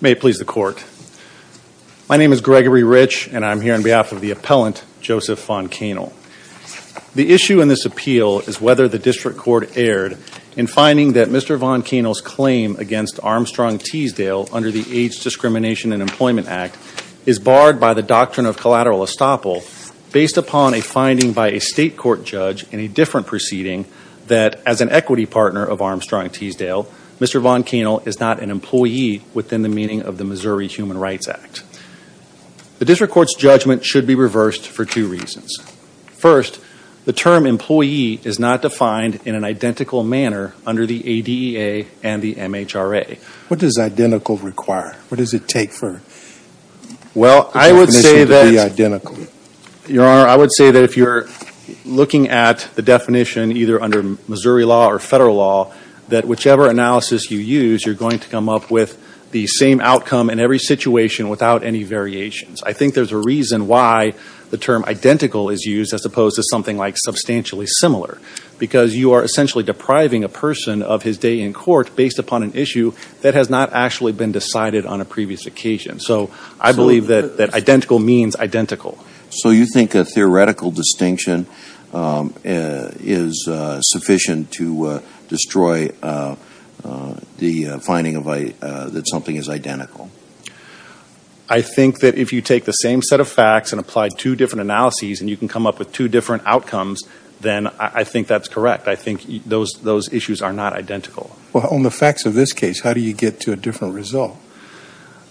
May it please the court. My name is Gregory Rich and I'm here on behalf of the appellant Joseph Von Kaenel. The issue in this appeal is whether the district court erred in finding that Mr. Von Kaenel's claim against Armstrong Teasdale under the AIDS Discrimination and Employment Act is barred by the doctrine of collateral estoppel based upon a finding by a state court judge in a different proceeding that as an equity partner of Armstrong Teasdale, Mr. Von Kaenel is not an employee within the meaning of the Missouri Human Rights Act. The district court's judgment should be reversed for two reasons. First, the term employee is not defined in an identical manner under the ADEA and the MHRA. What does identical require? What does it take for the definition to be identical? Your Honor, I would say that if you're looking at the definition either under Missouri law or federal law, that whichever analysis you use, you're going to come up with the same outcome in every situation without any variations. I think there's a reason why the term identical is used as opposed to something like substantially similar because you are essentially depriving a person of his day in court based upon an issue that has not actually been decided on a previous occasion. So I believe that identical means identical. So you think a theoretical distinction is sufficient to destroy the finding that something is identical? I think that if you take the same set of facts and apply two different analyses and you can I think that's correct. I think those issues are not identical. Well, on the facts of this case, how do you get to a different result?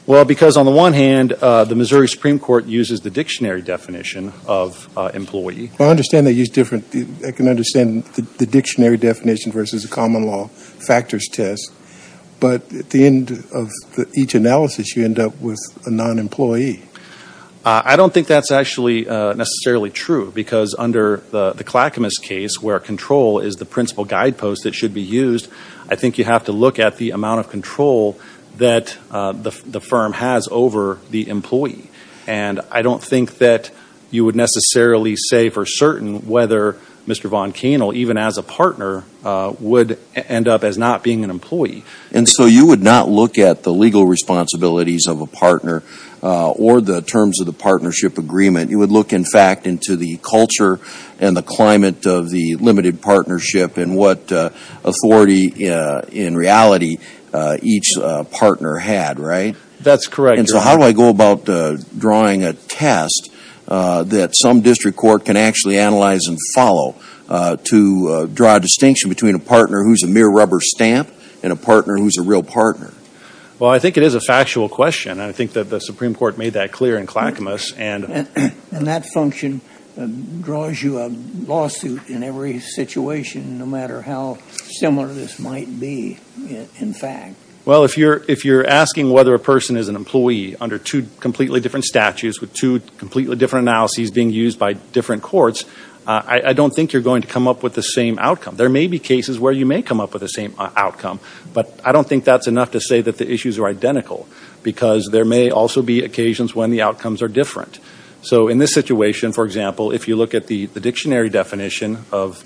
Well, because on the one hand, the Missouri Supreme Court uses the dictionary definition of employee. Well, I understand they use different, I can understand the dictionary definition versus the common law factors test, but at the end of each analysis, you end up with a non-employee. I don't think that's actually necessarily true because under the Clackamas case where control is the principal guidepost that should be used, I think you have to look at the amount of control that the firm has over the employee. And I don't think that you would necessarily say for certain whether Mr. Von Kainl, even as a partner, would end up as not being an employee. And so you would not look at the legal responsibilities of a partner or the terms of the partnership agreement. You would look, in fact, into the culture and the climate of the limited partnership and what authority, in reality, each partner had, right? That's correct. And so how do I go about drawing a test that some district court can actually analyze and follow to draw a distinction between a partner who's a mere rubber stamp and a partner who's a real partner? Well, I think it is a factual question and I think that the Supreme Court made that clear in Clackamas. And that function draws you a lawsuit in every situation, no matter how similar this might be, in fact. Well, if you're asking whether a person is an employee under two completely different statutes with two completely different analyses being used by different courts, I don't think you're going to come up with the same outcome. There may be cases where you may come up with the same outcome, but I don't think that's enough to say that the issues are identical because there may also be occasions when the outcomes are different. So in this situation, for example, if you look at the dictionary definition of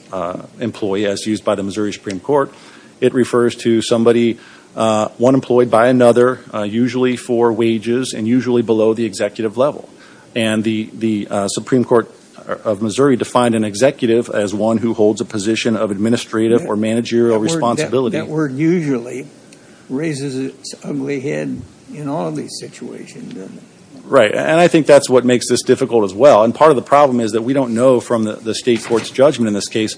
employee as used by the Missouri Supreme Court, it refers to somebody, one employee by another, usually for wages and usually below the executive level. And the Supreme Court of Missouri defined an executive as one who holds a position of administrative or managerial responsibility. That word usually raises its ugly head in all these situations, doesn't it? Right. And I think that's what makes this difficult as well. And part of the problem is that we don't know from the state court's judgment in this case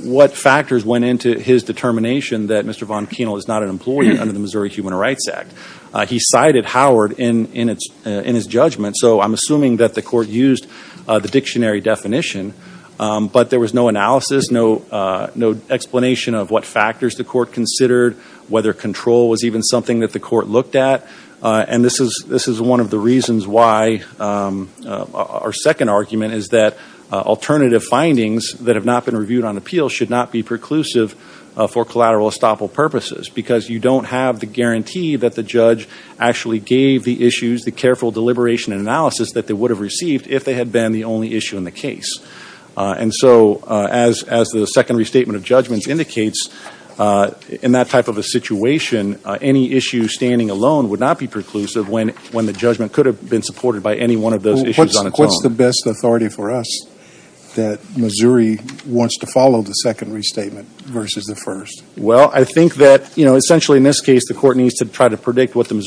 what factors went into his determination that Mr. Von Kienel is not an employee under the Missouri Human Rights Act. He cited Howard in his judgment, so I'm assuming that the court used the dictionary definition, but there was no analysis, no explanation of what factors the court considered, whether control was even something that the court looked at. And this is one of the reasons why our second argument is that alternative findings that have not been reviewed on appeal should not be preclusive for collateral estoppel purposes because you don't have the guarantee that the judge actually gave the issues, the careful deliberation and analysis that they would have received if they had been the only issue in the case. And so as the second restatement of judgments indicates, in that type of a situation, any issue standing alone would not be preclusive when the judgment could have been supported by any one of those issues on its own. What's the best authority for us that Missouri wants to follow the second restatement versus the first? Well, I think that essentially in this case the court needs to try to predict what the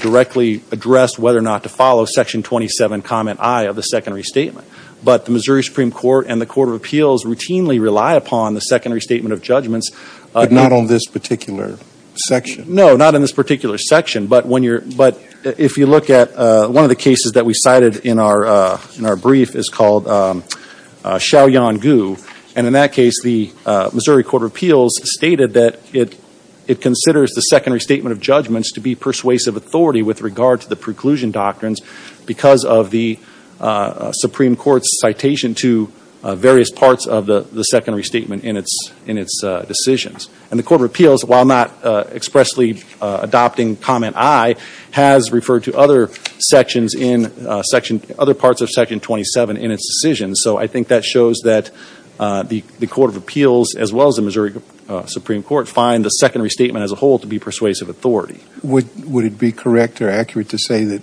directly address whether or not to follow section 27 comment I of the secondary statement. But the Missouri Supreme Court and the Court of Appeals routinely rely upon the secondary statement of judgments. But not on this particular section? No, not on this particular section. But if you look at one of the cases that we cited in our brief is called Shaoyang Gu, and in that case the Missouri Court of Appeals stated that it considers the secondary statement of judgments to be persuasive authority with regard to the preclusion doctrines because of the Supreme Court's citation to various parts of the secondary statement in its decisions. And the Court of Appeals, while not expressly adopting comment I, has referred to other sections in section, other parts of section 27 in its decisions. So I think that shows that the Court of Appeals as well as the Missouri Supreme Court find the secondary statement as a whole to be persuasive authority. Would it be correct or accurate to say that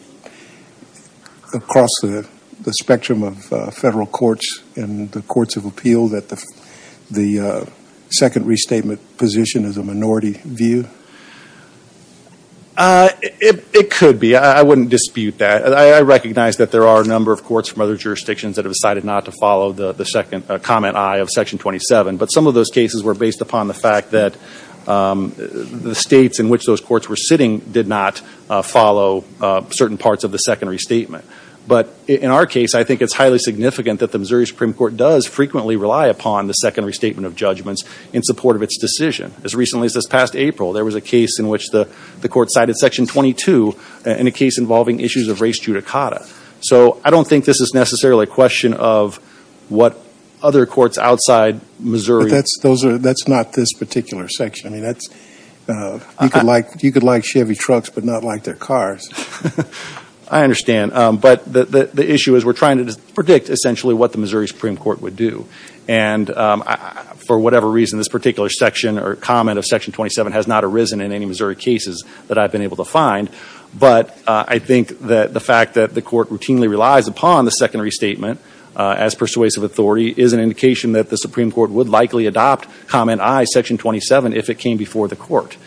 across the spectrum of federal courts and the courts of appeal that the secondary statement position is a minority view? It could be. I wouldn't dispute that. I recognize that there are a number of courts from other states that opt to follow the comment I of section 27, but some of those cases were based upon the fact that the states in which those courts were sitting did not follow certain parts of the secondary statement. But in our case, I think it's highly significant that the Missouri Supreme Court does frequently rely upon the secondary statement of judgments in support of its decision. As recently as this past April, there was a case in which the Court cited section 22 in a case involving issues of race judicata. So I don't think this is necessarily a question of what other courts outside Missouri... That's not this particular section. You could like Chevy trucks, but not like their cars. I understand. But the issue is we're trying to predict essentially what the Missouri Supreme Court would do. And for whatever reason, this particular section or comment of section 27 has not arisen in any Missouri cases that I've been able to find. But I think that the fact that the Court routinely relies upon the secondary statement as persuasive authority is an indication that the Supreme Court would likely adopt comment I, section 27, if it came before the Court.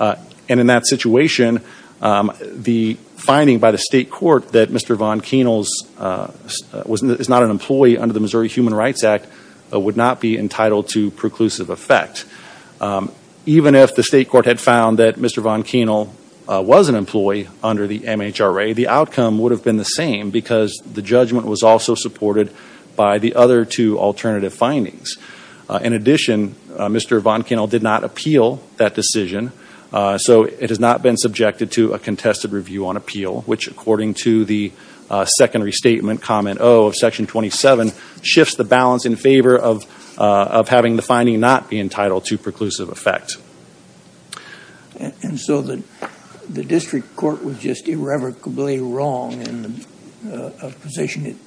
And in that situation, the finding by the state court that Mr. Von Kainel is not an employee under the Missouri Human Rights Act would not be entitled to preclusive effect. Even if the state court had found that Mr. Von Kainel was an employee under the MHRA, the outcome would have been the same because the judgment was also supported by the other two alternative findings. In addition, Mr. Von Kainel did not appeal that decision, so it has not been subjected to a contested review on appeal, which according to the secondary statement comment O of section 27 shifts the balance in favor of having the finding not be entitled to preclusive effect. And so the district court was just irrevocably wrong in the position it's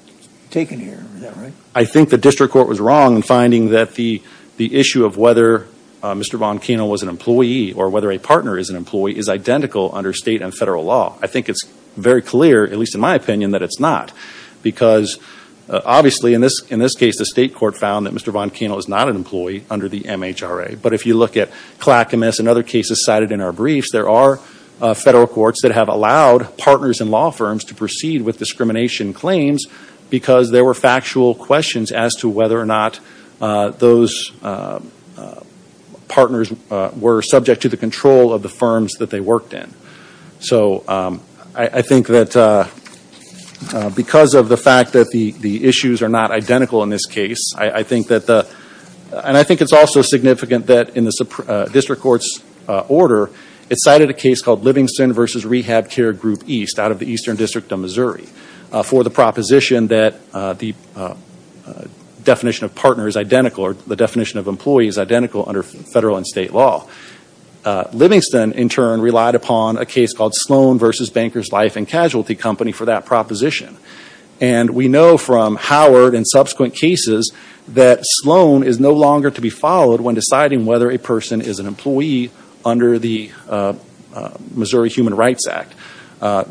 taken here, is that right? I think the district court was wrong in finding that the issue of whether Mr. Von Kainel was an employee or whether a partner is an employee is identical under state and federal law. I think it's very clear, at least in my opinion, that it's not because obviously in this case the state court found that Mr. Von Kainel is not an employee under the MHRA. But if you look at Clackamas and other cases cited in our briefs, there are federal courts that have allowed partners and law firms to proceed with discrimination claims because there were factual questions as to whether or not those partners were subject to the control of the firms that they worked in. So I think that because of the fact that the issues are not identical in this case, I think that the, and I think it's also significant that in the district court's order it cited a case called Livingston versus Rehab Care Group East out of the Eastern District of Missouri for the proposition that the definition of partner is identical or the definition of employee is identical under federal and state law. Livingston, in turn, relied upon a case called Sloan versus Banker's Life and Casualty Company for that proposition. And we know from Howard and subsequent cases that Sloan is no longer to be followed when deciding whether a person is an employee under the Missouri Human Rights Act.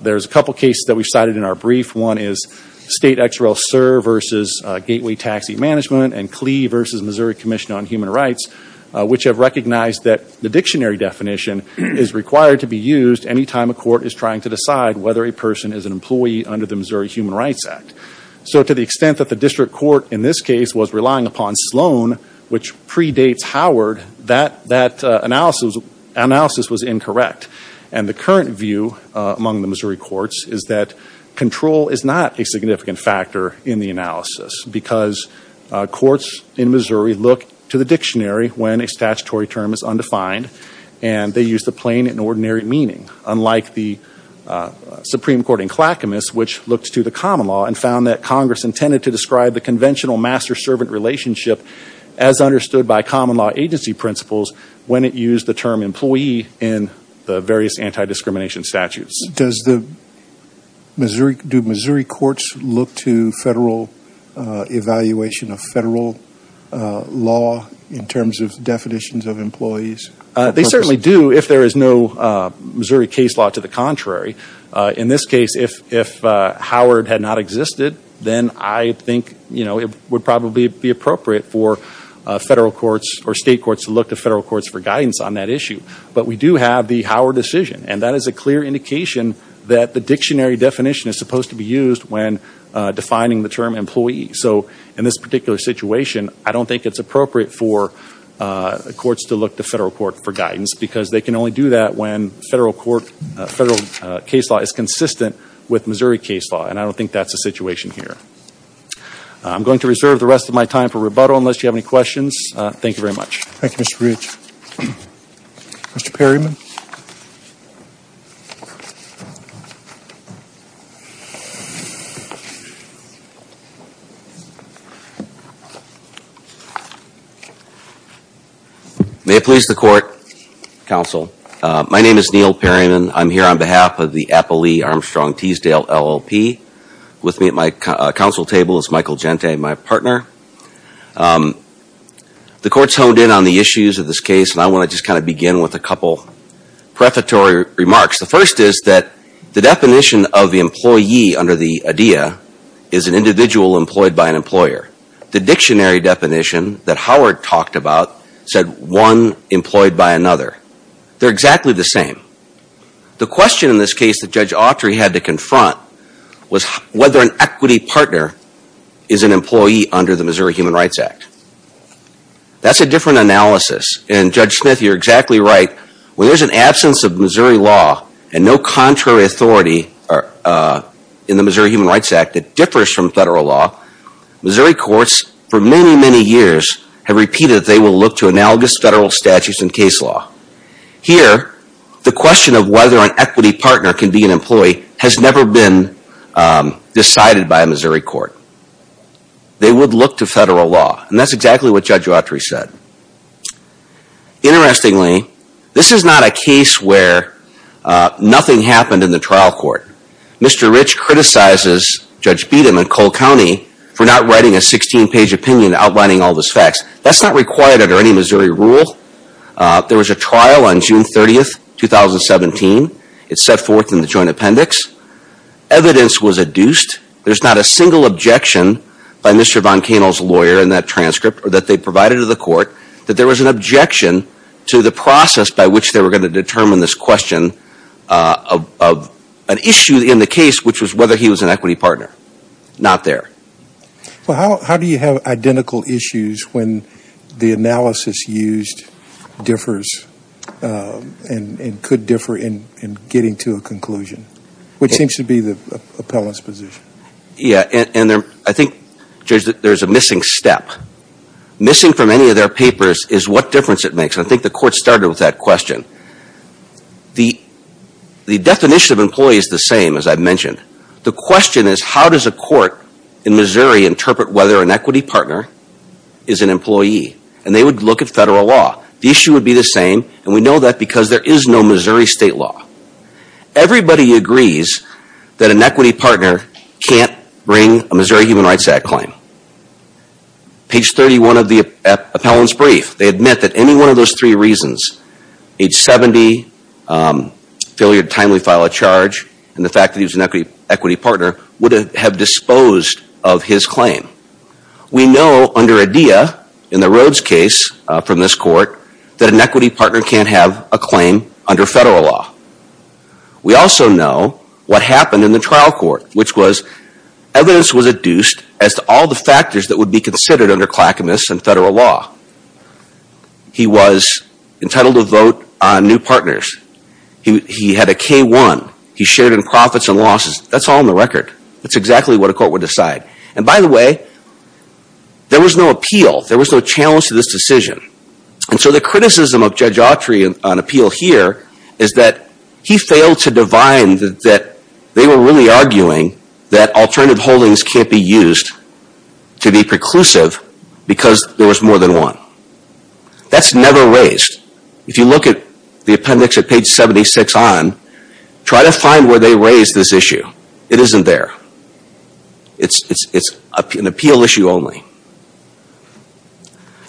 There's a couple of cases that we cited in our brief. One is State XRL-SIR versus Gateway Taxi Management and CLEI versus Missouri Commission on Human The dictionary definition is required to be used any time a court is trying to decide whether a person is an employee under the Missouri Human Rights Act. So to the extent that the district court in this case was relying upon Sloan, which predates Howard, that analysis was incorrect. And the current view among the Missouri courts is that control is not a significant factor in the analysis because courts in Missouri look to the dictionary when a statutory term is undefined and they use the plain and ordinary meaning, unlike the Supreme Court in Clackamas, which looked to the common law and found that Congress intended to describe the conventional master-servant relationship as understood by common law agency principles when it used the term employee in the various anti-discrimination statutes. Does the Missouri, do Missouri courts look to federal evaluation of federal law in terms of definitions of employees? They certainly do if there is no Missouri case law to the contrary. In this case, if Howard had not existed, then I think, you know, it would probably be appropriate for federal courts or state courts to look to federal courts for guidance on that issue. But we do have the Howard decision and that is a clear indication that the dictionary definition is supposed to be used when defining the term employee. So in this particular situation, I don't think it's appropriate for courts to look to federal court for guidance because they can only do that when federal court, federal case law is consistent with Missouri case law and I don't think that's the situation here. I'm going to reserve the rest of my time for rebuttal unless you have any questions. Thank you very much. Thank you, Mr. Rich. Mr. Perryman. May it please the court, counsel. My name is Neil Perryman. I'm here on behalf of the Appley Armstrong Teasdale LLP. With me at my counsel table is Michael Gentay, my partner. The court's honed in on the issues of this case and I want to just kind of begin with a couple prefatory remarks. The first is that the definition of the employee under the idea is an individual employed by an employer. The dictionary definition that Howard talked about said one employed by another. They're exactly the same. The question in this case that Judge Autry had to confront was whether an equity partner is an employee under the Missouri Human Rights Act. That's a different analysis and Judge Smith, you're exactly right. When there's an absence of Missouri law and no contrary authority in the Missouri Human Rights Act that differs from federal law, Missouri courts for many, many years have repeated that they will look to analogous federal statutes and case law. Here the question of whether an equity partner can be an employee has never been decided by a Missouri court. They would look to federal law and that's exactly what Judge Autry said. Interestingly, this is not a case where nothing happened in the trial court. Mr. Rich criticizes Judge Beatom and Cole County for not writing a 16-page opinion outlining all those facts. That's not required under any Missouri rule. There was a trial on June 30, 2017. It's set forth in the joint appendix. Evidence was adduced. There's not a single objection by Mr. Von Kainal's lawyer in that transcript that they provided to the court that there was an objection to the process by which they were going to determine this question of an issue in the case which was whether he was an equity partner. Not there. Well, how do you have identical issues when the analysis used differs and could differ in getting to a conclusion, which seems to be the appellant's position. I think, Judge, that there's a missing step. Missing from any of their papers is what difference it makes. I think the court started with that question. The definition of employee is the same, as I mentioned. The question is how does a court in Missouri interpret whether an equity partner is an employee? They would look at federal law. The issue would be the same, and we know that because there is no Missouri state law. Everybody agrees that an equity partner can't bring a Missouri Human Rights Act claim. Page 31 of the appellant's brief, they admit that any one of those three reasons, age 70, failure to timely file a charge, and the fact that he was an equity partner would have disposed of his claim. We know under IDEA, in the Rhodes case from this court, that an equity partner can't have a claim under federal law. We also know what happened in the trial court, which was evidence was adduced as to all the factors that would be considered under Clackamas and federal law. He was entitled to vote on new partners. He had a K-1. He shared in profits and losses. That's all in the record. That's exactly what a court would decide. By the way, there was no appeal. There was no challenge to this decision. The criticism of Judge Autry on appeal here is that he failed to divine that they were really arguing that alternative holdings can't be used to be preclusive because there was more than one. That's never raised. If you look at the appendix at page 76 on, try to find where they raised this issue. It isn't there. It's an appeal issue only.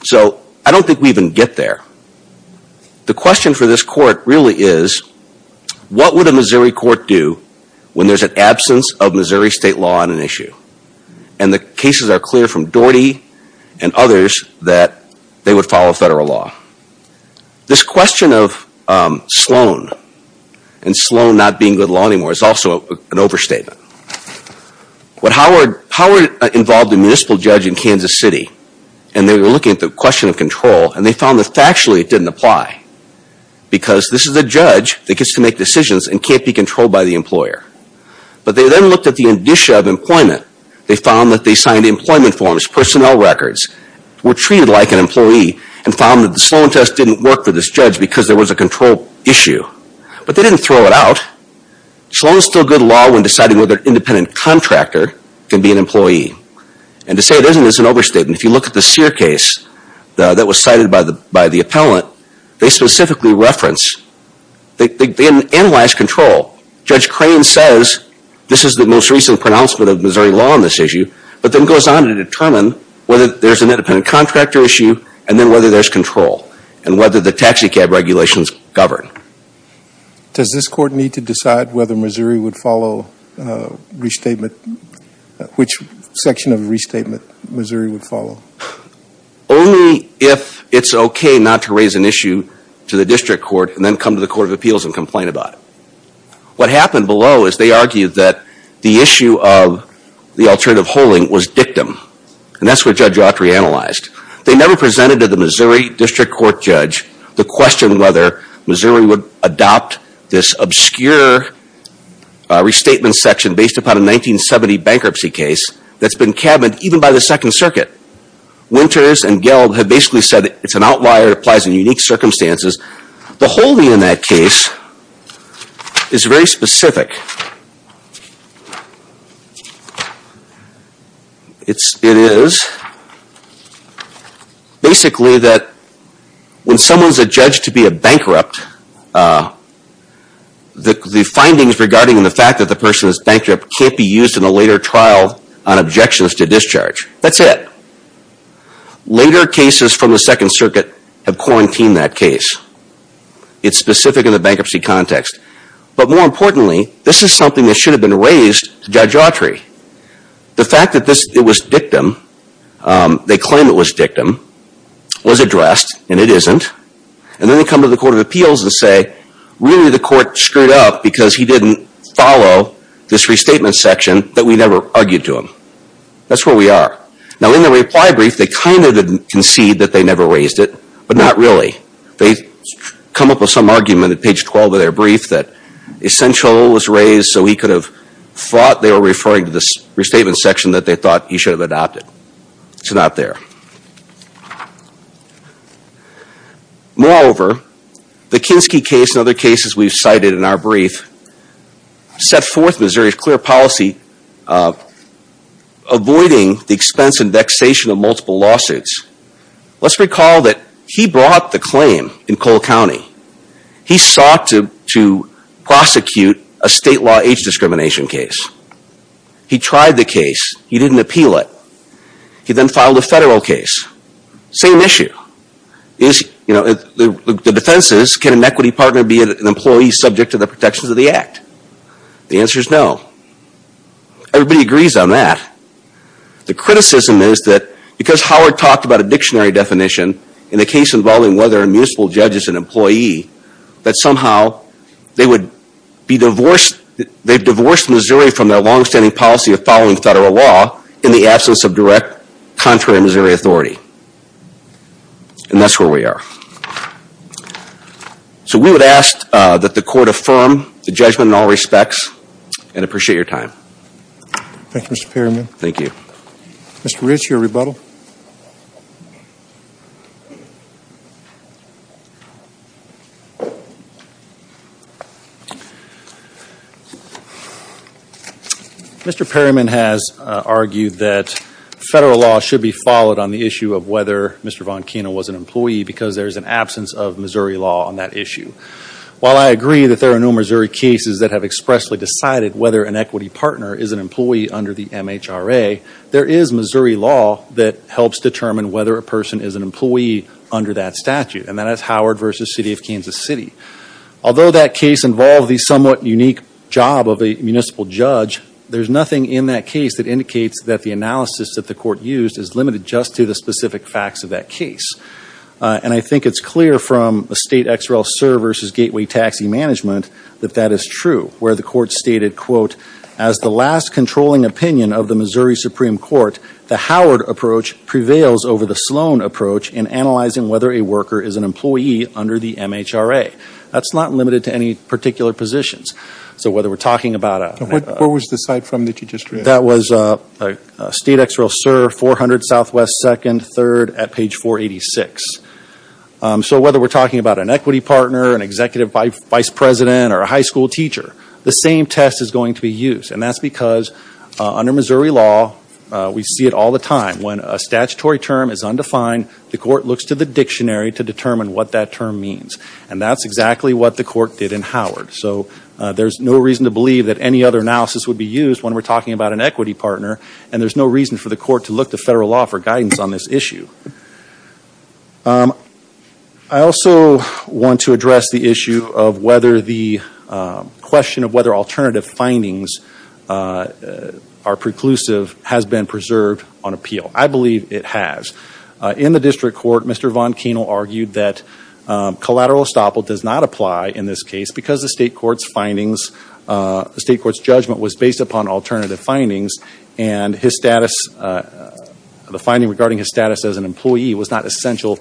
So I don't think we even get there. The question for this court really is, what would a Missouri court do when there's an absence of Missouri state law on an issue? And the cases are clear from Doherty and others that they would follow federal law. This question of Sloan and Sloan not being good law anymore is also an overstatement. Howard involved a municipal judge in Kansas City and they were looking at the question of control and they found that factually it didn't apply because this is a judge that gets to make decisions and can't be controlled by the employer. But they then looked at the indicia of employment. They found that they signed employment forms, personnel records, were treated like an employee and found that the Sloan test didn't work for this judge because there was a control issue. But they didn't throw it out. Sloan is still good law when deciding whether an independent contractor can be an employee. And to say it isn't is an overstatement. If you look at the Sear case that was cited by the appellant, they specifically reference – they didn't analyze control. Judge Crane says this is the most recent pronouncement of Missouri law on this issue, but then goes on to determine whether there's an independent contractor issue and then whether there's control and whether the taxi cab regulations govern. Does this court need to decide whether Missouri would follow restatement – which section of restatement Missouri would follow? Only if it's okay not to raise an issue to the district court and then come to the Court of Appeals and complain about it. What happened below is they argued that the issue of the alternative holding was dictum. And that's what Judge Autry analyzed. They never presented to the Missouri district court judge the question whether Missouri would adopt this obscure restatement section based upon a 1970 bankruptcy case that's been cabined even by the Second Circuit. Winters and Gelb have basically said it's an outlier, it applies in unique circumstances. The holding in that case is very specific. It is basically that when someone's adjudged to be a bankrupt, the findings regarding the fact that the person is bankrupt can't be used in a later trial on objections to discharge. That's it. Later cases from the Second Circuit have quarantined that case. It's specific in the bankruptcy context. But more importantly, this is something that should have been raised to Judge Autry. The fact that it was dictum, they claim it was dictum, was addressed, and it isn't, and then they come to the Court of Appeals and say, really the court screwed up because he didn't follow this restatement section that we never argued to him. That's where we are. Now in the reply brief, they kind of concede that they never raised it, but not really. They come up with some argument at page 12 of their brief that essential was raised so he could have thought they were referring to the restatement section that they thought he should have adopted. It's not there. Moreover, the Kinsky case and other cases we've cited in our brief set forth Missouri's fair policy avoiding the expense and vexation of multiple lawsuits. Let's recall that he brought the claim in Cole County. He sought to prosecute a state law age discrimination case. He tried the case. He didn't appeal it. He then filed a federal case. Same issue. The defense is, can an equity partner be an employee subject to the protections of the act? The answer is no. Everybody agrees on that. The criticism is that because Howard talked about a dictionary definition in the case involving whether a municipal judge is an employee, that somehow they've divorced Missouri from their longstanding policy of following federal law in the absence of direct contrary Missouri authority. And that's where we are. So we would ask that the court affirm the judgment in all respects and appreciate your time. Thank you, Mr. Perryman. Thank you. Mr. Rich, your rebuttal. Mr. Perryman has argued that federal law should be followed on the issue of whether Mr. Von absence of Missouri law on that issue. While I agree that there are no Missouri cases that have expressly decided whether an equity partner is an employee under the MHRA, there is Missouri law that helps determine whether a person is an employee under that statute, and that is Howard v. City of Kansas City. Although that case involved the somewhat unique job of a municipal judge, there's nothing in that case that indicates that the analysis that the court used is limited just to the And I think it's clear from the State XREL-SIR v. Gateway Taxi Management that that is true, where the court stated, quote, as the last controlling opinion of the Missouri Supreme Court, the Howard approach prevails over the Sloan approach in analyzing whether a worker is an employee under the MHRA. That's not limited to any particular positions. So whether we're talking about a What was the site from that you just read? That was State XREL-SIR 400 SW 2nd 3rd at page 486. So whether we're talking about an equity partner, an executive vice president, or a high school teacher, the same test is going to be used, and that's because under Missouri law we see it all the time. When a statutory term is undefined, the court looks to the dictionary to determine what that term means, and that's exactly what the court did in Howard. So there's no reason to believe that any other analysis would be used when we're talking about an equity partner, and there's no reason for the court to look to federal law for guidance on this issue. I also want to address the issue of whether the question of whether alternative findings are preclusive has been preserved on appeal. I believe it has. In the district court, Mr. Von Kainle argued that collateral estoppel does not apply in this case because the state court's findings, the state court's judgment was based upon alternative findings, and his status, the finding regarding his status as an employee was not essential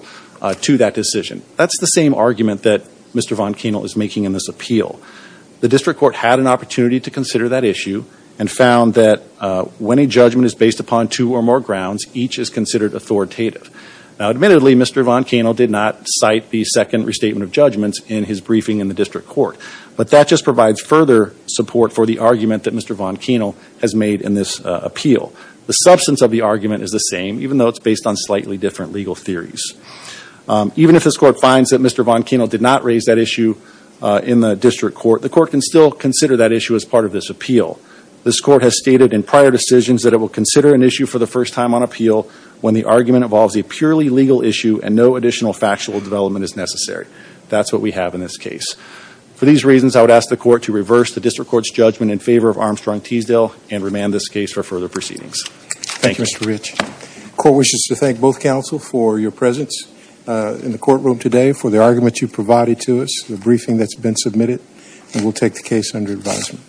to that decision. That's the same argument that Mr. Von Kainle is making in this appeal. The district court had an opportunity to consider that issue and found that when a judgment is based upon two or more grounds, each is considered authoritative. Now admittedly, Mr. Von Kainle did not cite the 2nd restatement of judgments in his briefing in the district court, but that just provides further support for the argument that Mr. Von Kainle has made in this appeal. The substance of the argument is the same, even though it's based on slightly different legal theories. Even if this court finds that Mr. Von Kainle did not raise that issue in the district court, the court can still consider that issue as part of this appeal. This court has stated in prior decisions that it will consider an issue for the first time on appeal when the argument involves a purely legal issue and no additional factual development is necessary. That's what we have in this case. For these reasons, I would ask the court to reverse the district court's judgment in favor of Armstrong Teasdale and remand this case for further proceedings. Thank you. Thank you, Mr. Rich. The court wishes to thank both counsel for your presence in the courtroom today, for the argument you provided to us, the briefing that's been submitted, and we'll take the case under advisement.